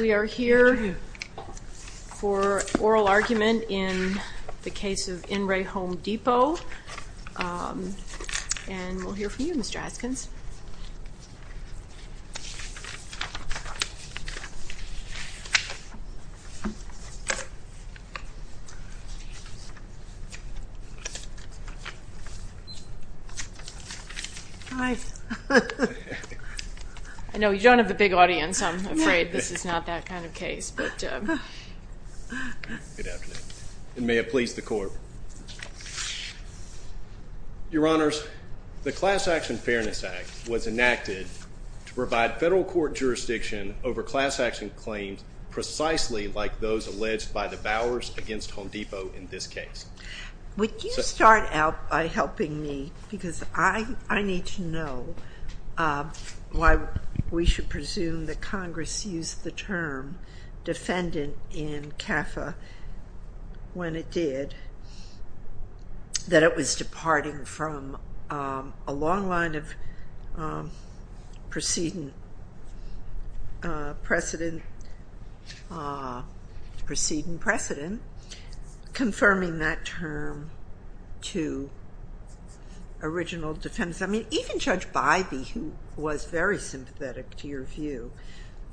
We are here for oral argument in the case of In Ray Home Depot, and we'll hear from Mr. Bauer and Ms. Bauer, and I'm afraid this is not that kind of case, but, um... Good afternoon, and may it please the Court. Your Honors, the Class Action Fairness Act was enacted to provide federal court jurisdiction over class action claims precisely like those alleged by the Bauers against Home Depot in this case. Would you start out by helping me, because I need to know why we should presume that Congress used the term defendant in CAFA when it did, that it was departing from a long line of preceding precedent, confirming that term to original defendants. I mean, even Judge Bybee, who was very sympathetic to your view,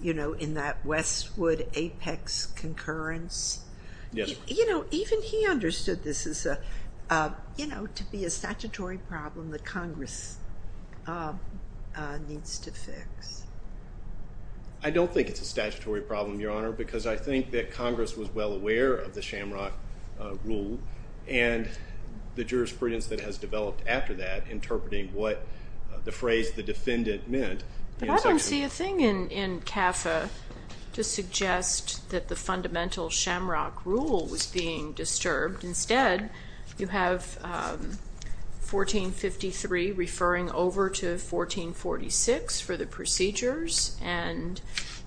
you know, in that Westwood Apex concurrence. Yes. You know, even he understood this as a, you know, to be a statutory problem that Congress needs to fix. I don't think it's a statutory problem, Your Honor, because I think that Congress was well aware of the Shamrock Rule, and the jurisprudence that has developed after that, interpreting what the phrase, the defendant, meant. But I don't see a thing in CAFA to suggest that the fundamental Shamrock Rule was being disturbed. Instead, you have 1453 referring over to 1446 for the procedures, and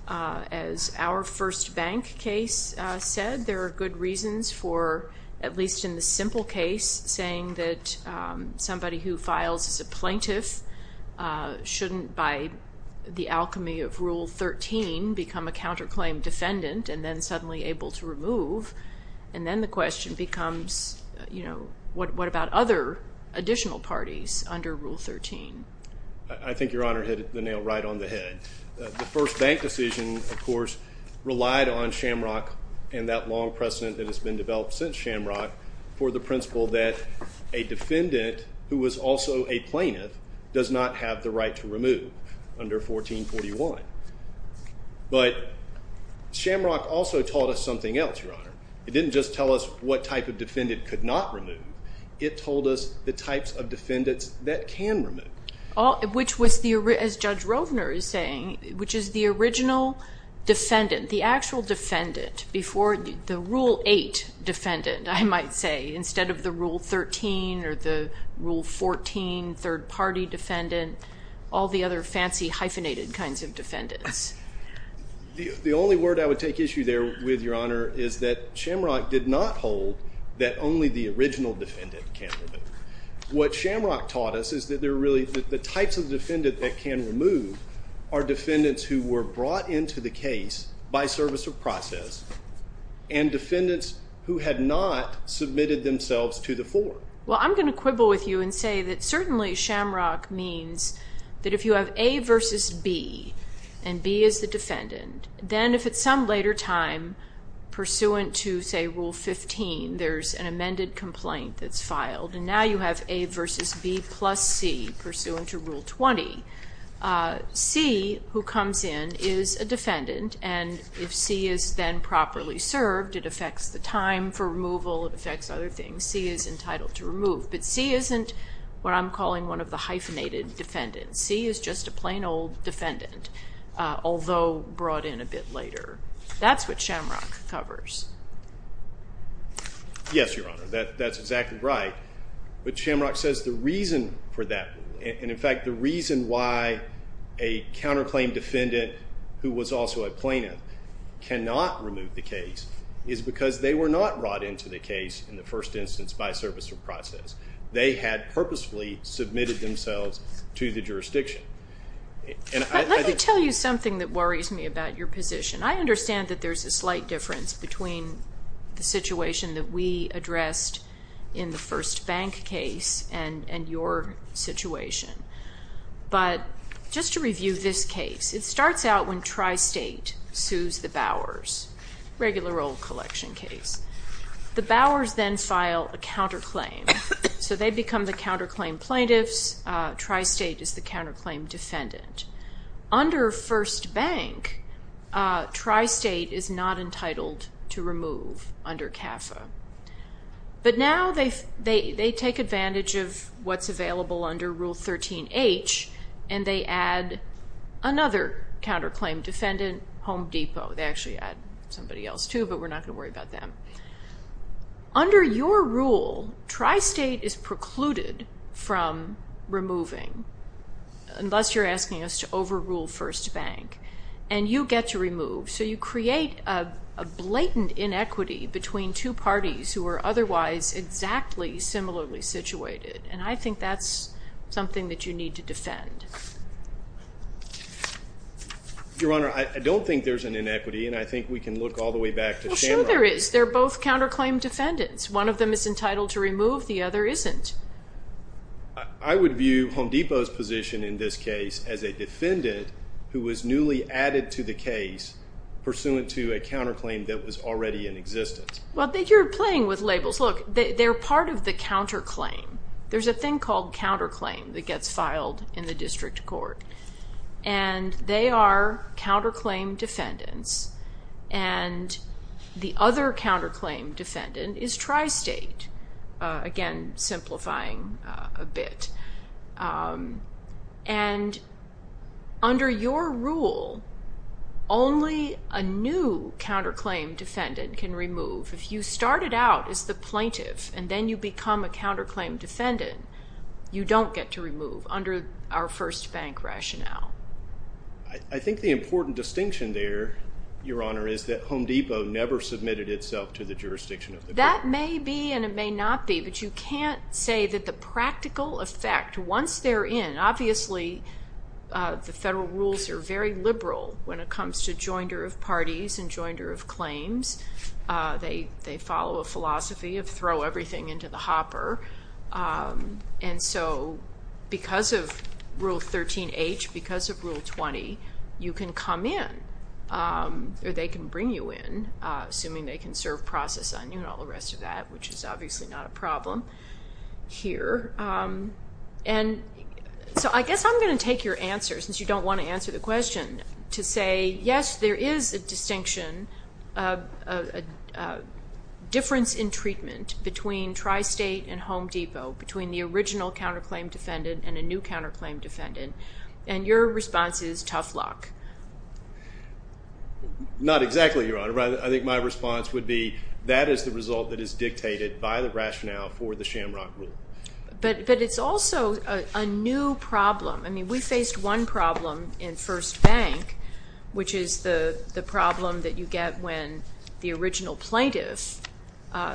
as our first bank case said, there are good reasons for, at least in the simple case, saying that somebody who files as a plaintiff shouldn't, by the alchemy of Rule 13, become a counterclaim defendant and then suddenly able to remove, and then the question becomes, you know, what about other additional parties under Rule 13? I think Your Honor hit the nail right on the head. The first bank decision, of course, relied on Shamrock and that long precedent that has also a plaintiff does not have the right to remove under 1441. But Shamrock also taught us something else, Your Honor. It didn't just tell us what type of defendant could not remove. It told us the types of defendants that can remove. Which was, as Judge Rovner is saying, which is the original defendant, the actual defendant before the Rule 8 defendant, I might say, instead of the Rule 13 or the Rule 14 third party defendant, all the other fancy hyphenated kinds of defendants. The only word I would take issue there with, Your Honor, is that Shamrock did not hold that only the original defendant can remove. What Shamrock taught us is that the types of defendant that can remove are defendants who were brought into the case by service of process and defendants who had not submitted themselves to the fore. Well, I'm going to quibble with you and say that certainly Shamrock means that if you have A versus B and B is the defendant, then if at some later time pursuant to, say, Rule 15, there's an amended complaint that's filed and now you have A versus B plus C pursuant to Rule 20, C, who comes in, is a defendant. And if C is then properly served, it affects the time for removal, it affects other things. C is entitled to remove. But C isn't what I'm calling one of the hyphenated defendants. C is just a plain old defendant, although brought in a bit later. That's what Shamrock covers. Yes, Your Honor, that's exactly right. But Shamrock says the reason for that, and in fact the reason why a counterclaim defendant who was also a plaintiff cannot remove the case is because they were not brought into the case in the first instance by service of process. They had purposefully submitted themselves to the jurisdiction. Let me tell you something that worries me about your position. I understand that there's a slight difference between the situation that we addressed in the First Bank case and your situation. But just to review this case, it starts out when Tri-State sues the Bowers, regular old collection case. The Bowers then file a counterclaim. So they become the counterclaim plaintiffs, Tri-State is the counterclaim defendant. Under First Bank, Tri-State is not entitled to remove under CAFA. But now they take advantage of what's available under Rule 13H, and they add another counterclaim defendant, Home Depot. They actually add somebody else too, but we're not going to worry about them. Under your rule, Tri-State is precluded from removing, unless you're asking us to overrule First Bank. And you get to remove. So you create a blatant inequity between two parties who are otherwise exactly similarly situated. And I think that's something that you need to defend. Your Honor, I don't think there's an inequity, and I think we can look all the way back to Shamrock. Well, sure there is. They're both counterclaim defendants. One of them is entitled to remove, the other isn't. I would view Home Depot's position in this case as a defendant who was newly added to the case pursuant to a counterclaim that was already in existence. Well, you're playing with labels. Look, they're part of the counterclaim. There's a thing called counterclaim that gets filed in the district court. And they are counterclaim defendants. And the other counterclaim defendant is Tri-State, again, simplifying a bit. And under your rule, only a new counterclaim defendant can remove. If you started out as the plaintiff and then you become a counterclaim defendant, you don't get to remove under our first bank rationale. I think the important distinction there, Your Honor, is that Home Depot never submitted itself to the jurisdiction of the bank. That may be and it may not be, but you can't say that the practical effect, once they're in, obviously the federal rules are very liberal when it comes to jointer of parties and jointer of claims. They follow a philosophy of throw everything into the hopper. And so because of Rule 13H, because of Rule 20, you can come in, or they can bring you in, assuming they can serve process on you and all the rest of that, which is obviously not a problem here. And so I guess I'm going to take your answer, since you don't want to answer the question, to say, yes, there is a distinction, a difference in treatment between Tri-State and Home Depot, between the original counterclaim defendant and a new counterclaim defendant. And your response is tough luck. Not exactly, Your Honor. I think my response would be that is the result that is dictated by the rationale for the Shamrock Rule. But it's also a new problem. I mean, we faced one problem in First Bank, which is the problem that you get when the original plaintiff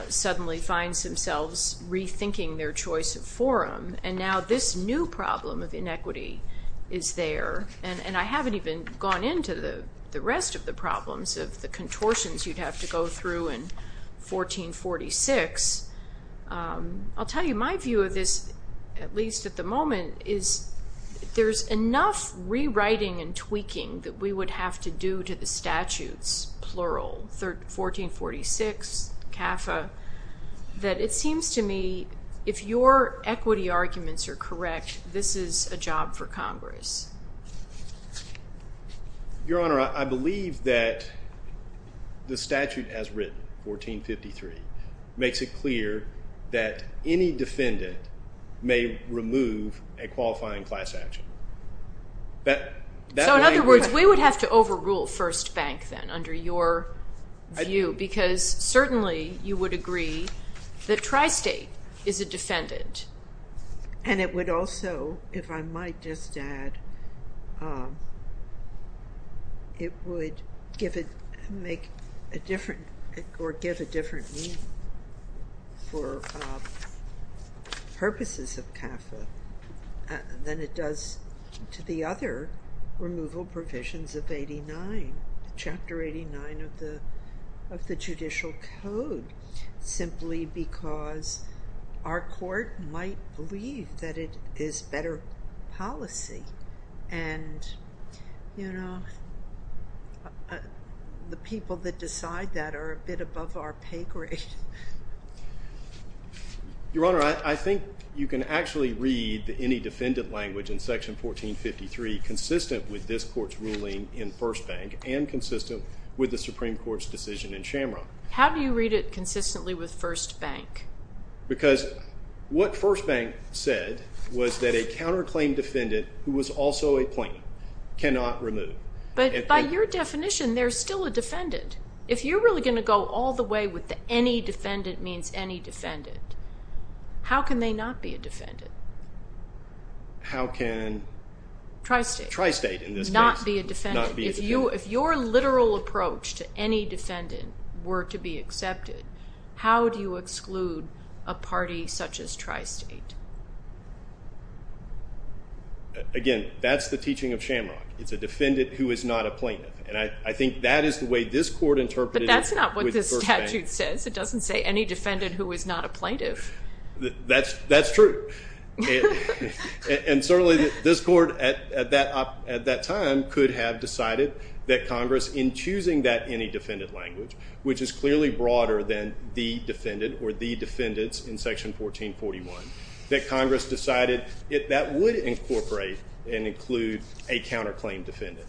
suddenly finds themselves rethinking their choice of forum. And now this new problem of inequity is there. And I haven't even gone into the rest of the problems of the contortions you'd have to go through in 1446. I'll tell you, my view of this, at least at the moment, is there's enough rewriting and tweaking that we would have to do to the statutes, plural, 1446, CAFA, that it seems to me if your equity arguments are correct, this is a job for Congress. Your Honor, I believe that the statute as written, 1453, makes it clear that any defendant may remove a qualifying class action. So in other words, we would have to overrule First Bank then, under your view, because certainly you would agree that Tri-State is a defendant. And it would also, if I might just add, it would give a different meaning for purposes of CAFA than it does to the other removal provisions of 89, Chapter 89 of the Judicial Code, simply because our court might believe that it is better policy. And the people that decide that are a bit above our pay grade. Your Honor, I think you can actually read any defendant language in Section 1453 consistent with this court's ruling in First Bank and consistent with the Supreme Court's decision in Shamrock. How do you read it consistently with First Bank? Because what First Bank said was that a counterclaim defendant, who was also a plaintiff, cannot remove. But by your definition, there's still a defendant. If you're really going to go all the way with any defendant means any defendant, how can they not be a defendant? How can Tri-State not be a defendant? If your literal approach to any defendant were to be accepted, how do you exclude a party such as Tri-State? Again, that's the teaching of Shamrock. It's a defendant who is not a plaintiff. I think that is the way this court interpreted it with First Bank. But that's not what the statute says. It doesn't say any defendant who is not a plaintiff. That's true. And certainly this court at that time could have decided that Congress, in choosing that any defendant language, which is clearly broader than the defendant or the defendants in Section 1441, that Congress decided that would incorporate and include a counterclaim defendant.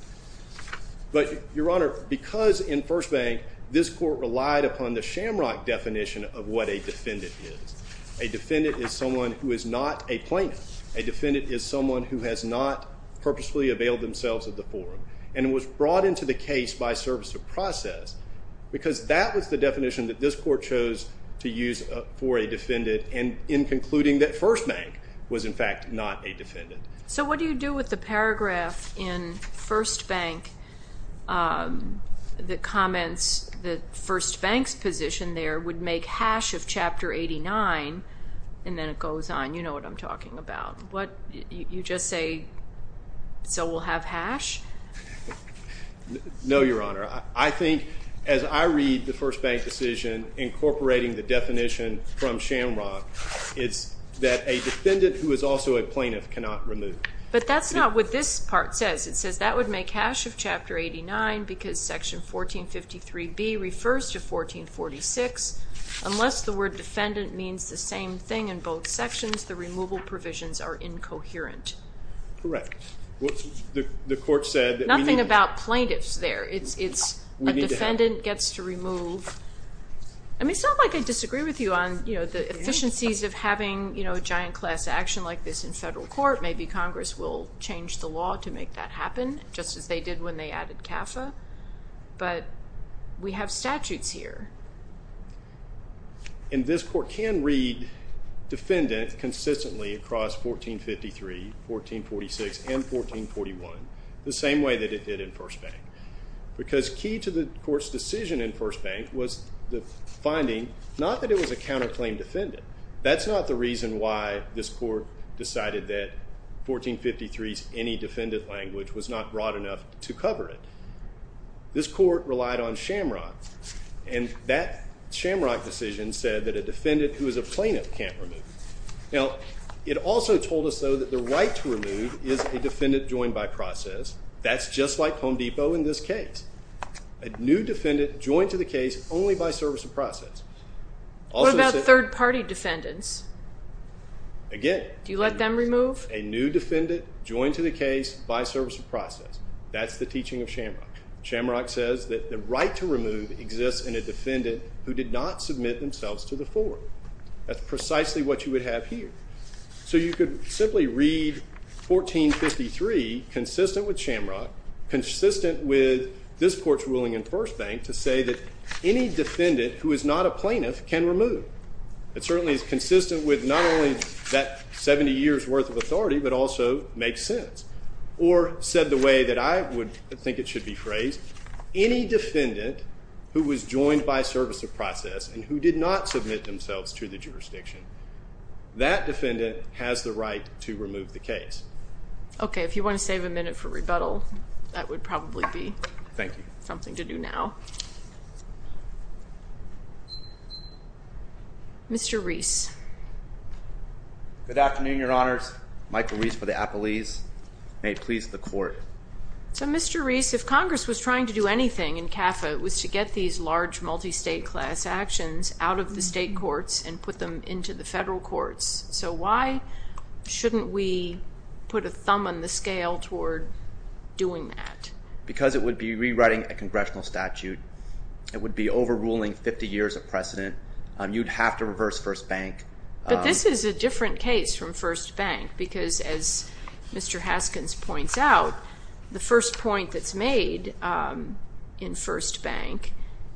But, Your Honor, because in First Bank, this court relied upon the Shamrock definition of what a defendant is. A defendant is someone who is not a plaintiff. A defendant is someone who has not purposefully availed themselves of the forum and was brought into the case by service of process because that was the definition that this court chose to use for a defendant in concluding that First Bank was, in fact, not a defendant. So what do you do with the paragraph in First Bank that comments that First Bank's position there would make hash of Chapter 89, and then it goes on. You know what I'm talking about. You just say, so we'll have hash? No, Your Honor. I think, as I read the First Bank decision incorporating the definition from Shamrock, it's that a defendant who is also a plaintiff cannot remove. But that's not what this part says. It says that would make hash of Chapter 89 because Section 1453B refers to 1446. Unless the word defendant means the same thing in both sections, the removal provisions are incoherent. Correct. Well, the court said that we need to... Nothing about plaintiffs there. It's a defendant gets to remove. I mean, it's not like I disagree with you on the efficiencies of having a giant class action like this in federal court. Maybe Congress will change the law to make that happen, just as they did when they added CAFA, but we have statutes here. And this court can read defendant consistently across 1453, 1446, and 1441 the same way that it did in First Bank. Because key to the court's decision in First Bank was the finding, not that it was a counterclaim defendant. That's not the reason why this court decided that 1453's any defendant language was not broad enough to cover it. This court relied on Shamrock, and that Shamrock decision said that a defendant who is a plaintiff can't remove. Now, it also told us, though, that the right to remove is a defendant joined by process. That's just like Home Depot in this case. A new defendant joined to the case only by service of process. What about third party defendants? Again... Do you let them remove? A new defendant joined to the case by service of process. That's the teaching of Shamrock. Shamrock says that the right to remove exists in a defendant who did not submit themselves to the forum. That's precisely what you would have here. So you could simply read 1453 consistent with Shamrock, consistent with this court's ruling in First Bank to say that any defendant who is not a plaintiff can remove. It certainly is consistent with not only that 70 years worth of authority, but also makes sense. Or said the way that I would think it should be phrased, any defendant who was joined by service of process and who did not submit themselves to the jurisdiction, that defendant has the right to remove the case. Okay. If you want to save a minute for rebuttal, that would probably be something to do now. Mr. Reese. Good afternoon, your honors. Michael Reese for the appellees. May it please the court. So Mr. Reese, if Congress was trying to do anything in CAFA, it was to get these large multi-state class actions out of the state courts and put them into the federal courts. So why shouldn't we put a thumb on the scale toward doing that? Because it would be rewriting a congressional statute. It would be overruling 50 years of precedent. You'd have to reverse First Bank. But this is a different case from First Bank because as Mr. Haskins points out, the first point that's made in First Bank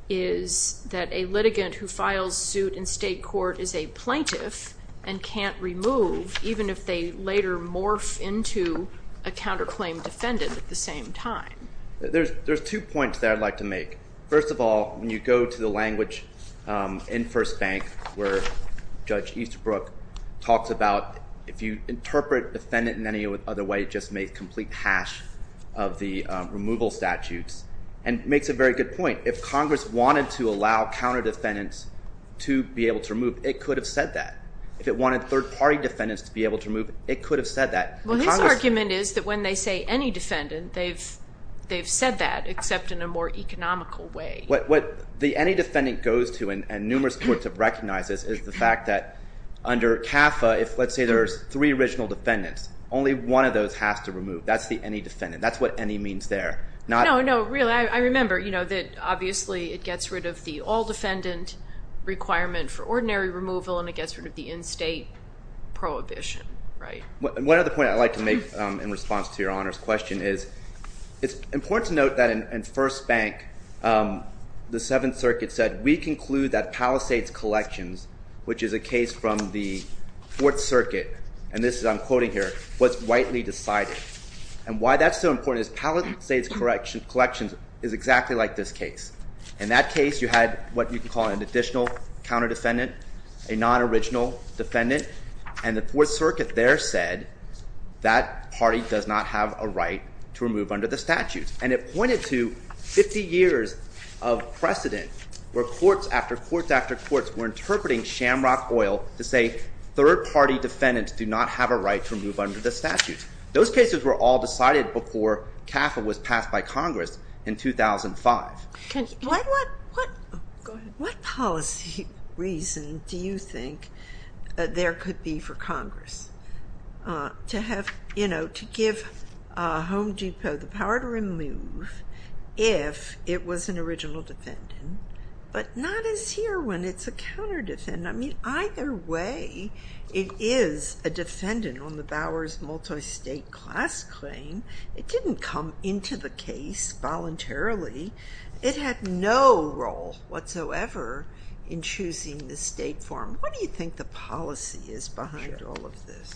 is that a litigant who files suit in state court is a plaintiff and can't remove even if they later morph into a counterclaim defendant at the same time. There's two points that I'd like to make. First of all, when you go to the language in First Bank where Judge Easterbrook talks about if you interpret defendant in any other way, it just makes complete hash of the removal statutes. And it makes a very good point. If Congress wanted to allow counter defendants to be able to remove, it could have said that. If it wanted third party defendants to be able to remove, it could have said that. Well, his argument is that when they say any defendant, they've said that except in a more economical way. What the any defendant goes to and numerous courts have recognized this is the fact that under CAFA, if let's say there's three original defendants, only one of those has to remove. That's the any defendant. That's what any means there. No, no, really, I remember that obviously it gets rid of the all defendant requirement for ordinary removal and it gets rid of the in-state prohibition, right? One other point I'd like to make in response to Your Honor's question is it's important to note that in First Bank, the Seventh Circuit said, we conclude that Palisades Collections, which is a case from the Fourth Circuit, and this is I'm quoting here, was rightly decided. And why that's so important is Palisades Collections is exactly like this case. In that case, you had what you could call an additional counter defendant, a non-original defendant, and the Fourth Circuit there said that party does not have a right to remove under the statutes. And it pointed to 50 years of precedent where courts after courts after courts were interpreting Shamrock Oil to say third party defendants do not have a right to remove under the statutes. Those cases were all decided before CAFA was passed by Congress in 2005. What policy reason do you think there could be for Congress to have, you know, to give Home Depot the power to remove if it was an original defendant, but not as here when it's a counter defendant. I mean, either way, it is a defendant on the Bowers multi-state class claim. It didn't come into the case voluntarily. It had no role whatsoever in choosing the state form. What do you think the policy is behind all of this?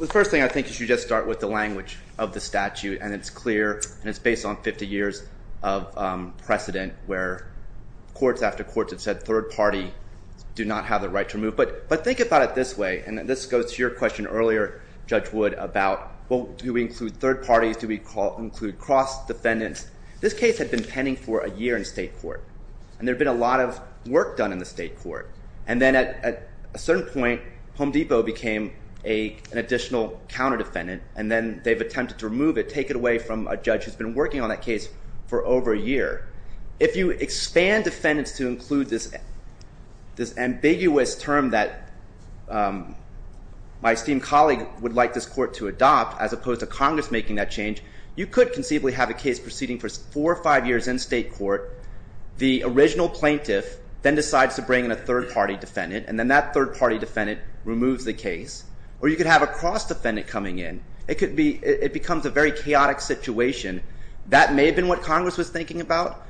The first thing I think is you just start with the language of the statute and it's clear and it's based on 50 years of precedent where courts after courts have said third party do not have the right to remove. But think about it this way, and this goes to your question earlier, Judge Wood, about well do we include third parties, do we include cross defendants? This case had been pending for a year in state court and there had been a lot of work done in the state court. And then at a certain point, Home Depot became an additional counter defendant and then they've attempted to remove it, take it away from a judge who's been working on that case for over a year. If you expand defendants to include this ambiguous term that my esteemed colleague would like this court to adopt as opposed to Congress making that change, you could conceivably have a case proceeding for four or five years in state court, the original plaintiff then decides to bring in a third party defendant and then that third party defendant removes the case. Or you could have a cross defendant coming in. It becomes a very chaotic situation. That may have been what Congress was thinking about.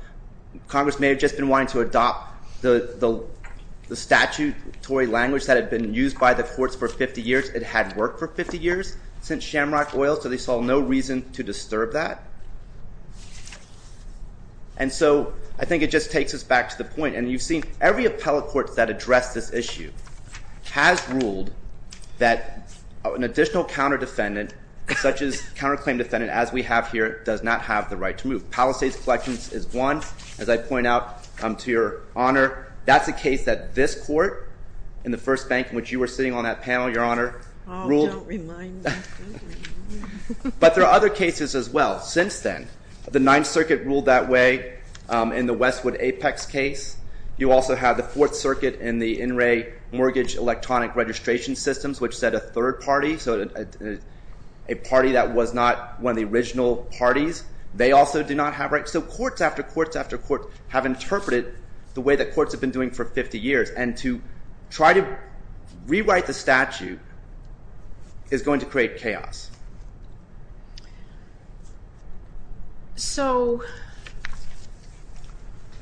Congress may have just been wanting to adopt the statutory language that had been used by the courts for 50 years. It had worked for 50 years since Shamrock Oil so they saw no reason to disturb that. And so I think it just takes us back to the point. And you've seen every appellate court that addressed this issue has ruled that an additional counter defendant such as counterclaim defendant as we have here does not have the right to move. Palisades Collections is one. As I point out, to your honor, that's a case that this court in the first bank in which you were sitting on that panel, your honor, ruled. Don't remind me. But there are other cases as well since then. The Ninth Circuit ruled that way in the Westwood Apex case. You also have the Fourth Circuit in the In Re Mortgage Electronic Registration Systems which said a third party, so a party that was not one of the original parties, they also do not have rights. So courts after courts after courts have interpreted the way that courts have been doing for 50 years. And to try to rewrite the statute is going to create chaos. So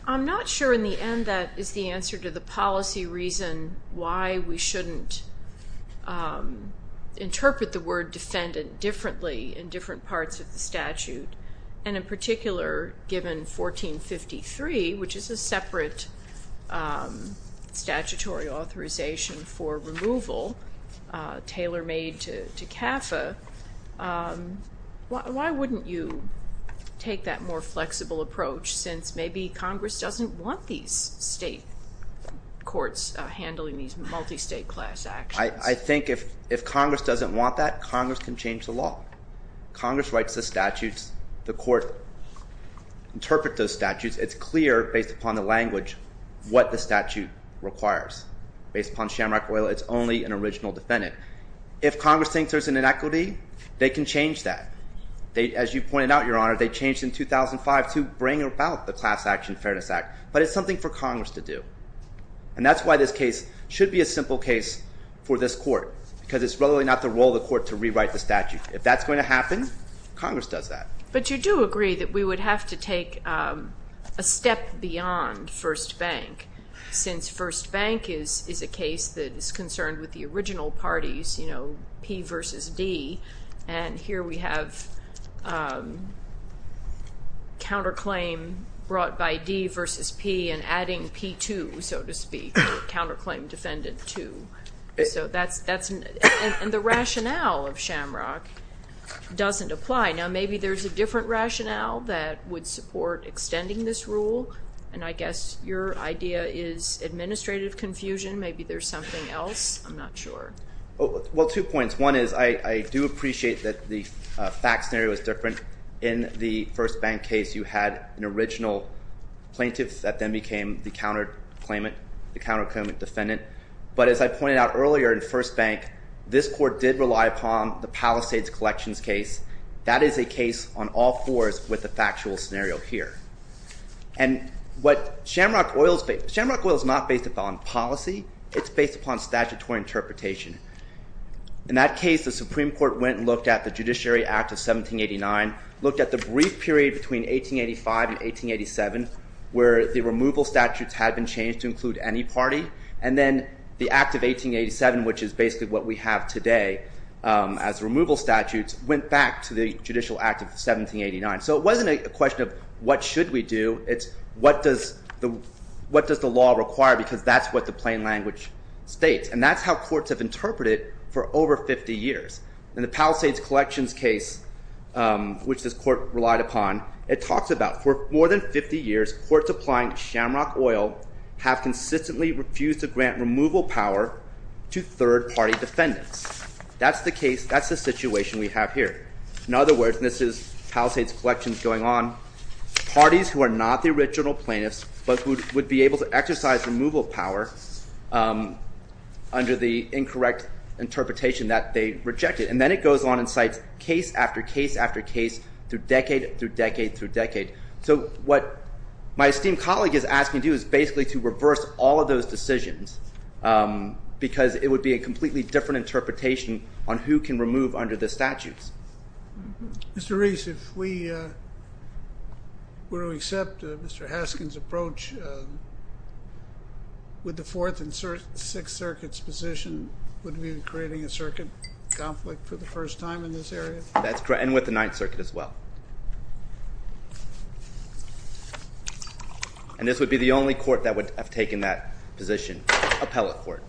I'm not sure in the end that is the answer to the policy reason why we shouldn't interpret the word defendant differently in different parts of the statute. And in particular, given 1453, which is a separate statutory authorization for removal, tailor made to CAFA, why wouldn't you take that more flexible approach since maybe Congress doesn't want these state courts handling these multi-state class actions? I think if Congress doesn't want that, Congress can change the law. Congress writes the statutes, the court interpret those statutes, it's clear based upon the language what the statute requires. Based upon shamrock oil, it's only an original defendant. If Congress thinks there's an inequity, they can change that. As you pointed out, Your Honor, they changed in 2005 to bring about the Class Action Fairness Act. But it's something for Congress to do. And that's why this case should be a simple case for this court because it's really not the role of the court to rewrite the statute. If that's going to happen, Congress does that. But you do agree that we would have to take a step beyond First Bank since First Bank is a case that is concerned with the original parties, you know, P versus D. And here we have counterclaim brought by D versus P and adding P2, so to speak, counterclaim defendant 2. So that's, and the rationale of shamrock doesn't apply. Now maybe there's a different rationale that would support extending this rule. And I guess your idea is administrative confusion. Maybe there's something else. I'm not sure. Well, two points. One is, I do appreciate that the fact scenario is different. In the First Bank case, you had an original plaintiff that then became the counterclaimant, the counterclaimant defendant. But as I pointed out earlier in First Bank, this court did rely upon the Palisades Collections case. That is a case on all fours with the factual scenario here. And what shamrock oil, shamrock oil is not based upon policy. It's based upon statutory interpretation. In that case, the Supreme Court went and looked at the Judiciary Act of 1789, looked at the brief period between 1885 and 1887 where the removal statutes had been changed to include any party. And then the Act of 1887, which is basically what we have today as removal statutes, went back to the Judicial Act of 1789. So it wasn't a question of what should we do. It's what does the law require because that's what the plain language states. And that's how courts have interpreted it for over 50 years. In the Palisades Collections case, which this court relied upon, it talks about for more than 50 years, courts applying shamrock oil have consistently refused to grant removal power to third-party defendants. That's the case. That's the situation we have here. In other words, and this is Palisades Collections going on, parties who are not the original plaintiffs but would be able to exercise removal power under the incorrect interpretation that they rejected. And then it goes on and cites case after case after case through decade through decade through decade. So what my esteemed colleague is asking to do is basically to reverse all of those decisions because it would be a completely different interpretation on who can remove under the statutes. Mr. Reese, if we were to accept Mr. Haskins' approach with the Fourth and Sixth Circuit's position, would we be creating a circuit conflict for the first time in this area? That's correct, and with the Ninth Circuit as well. And this would be the only court that would have taken that position, appellate court.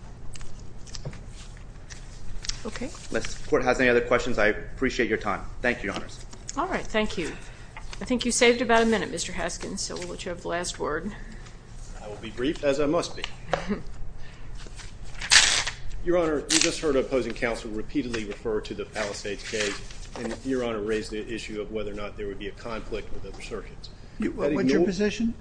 Okay. Unless the court has any other questions, I appreciate your time. Thank you, Your Honors. All right. Thank you. I think you saved about a minute, Mr. Haskins, so we'll let you have the last word. I will be brief, as I must be. Your Honor, you just heard an opposing counsel repeatedly refer to the Palisades case, and Your Honor raised the issue of whether or not there would be a conflict with other circuits. Would your position?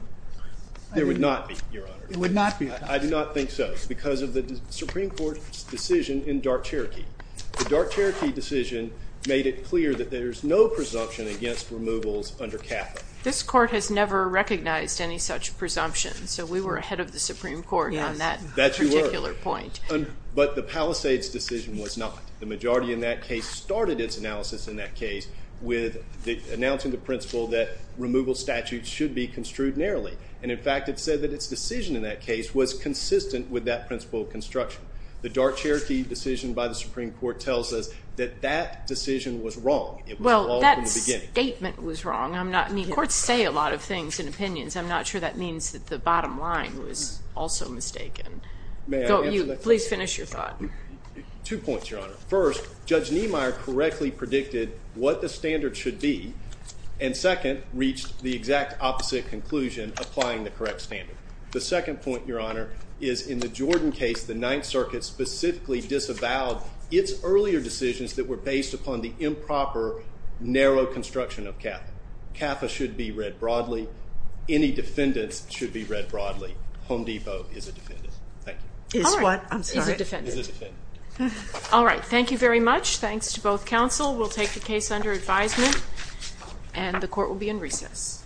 There would not be, Your Honor. There would not be a conflict? I do not think so, because of the Supreme Court's decision in Dark Cherokee. The Dark Cherokee decision made it clear that there's no presumption against removals under CAFA. This court has never recognized any such presumption, so we were ahead of the Supreme Court. Yes. That you were. On that particular point. But the Palisades decision was not. The majority in that case started its analysis in that case with announcing the principle that removal statutes should be construed narrowly, and in fact, it said that its decision in that case was consistent with that principle of construction. The Dark Cherokee decision by the Supreme Court tells us that that decision was wrong. It was wrong from the beginning. Well, that statement was wrong. I mean, courts say a lot of things in opinions. I'm not sure that means that the bottom line was also mistaken. Please finish your thought. Two points, Your Honor. First, Judge Niemeyer correctly predicted what the standard should be, and second, reached the exact opposite conclusion, applying the correct standard. The second point, Your Honor, is in the Jordan case, the Ninth Circuit specifically disavowed its earlier decisions that were based upon the improper, narrow construction of CAFA. CAFA should be read broadly. Any defendants should be read broadly. Home Depot is a defendant. Thank you. Is what? I'm sorry. Is a defendant. Is a defendant. All right. Thank you very much. We'll take the case under advisement, and the court will be in recess. Thank you.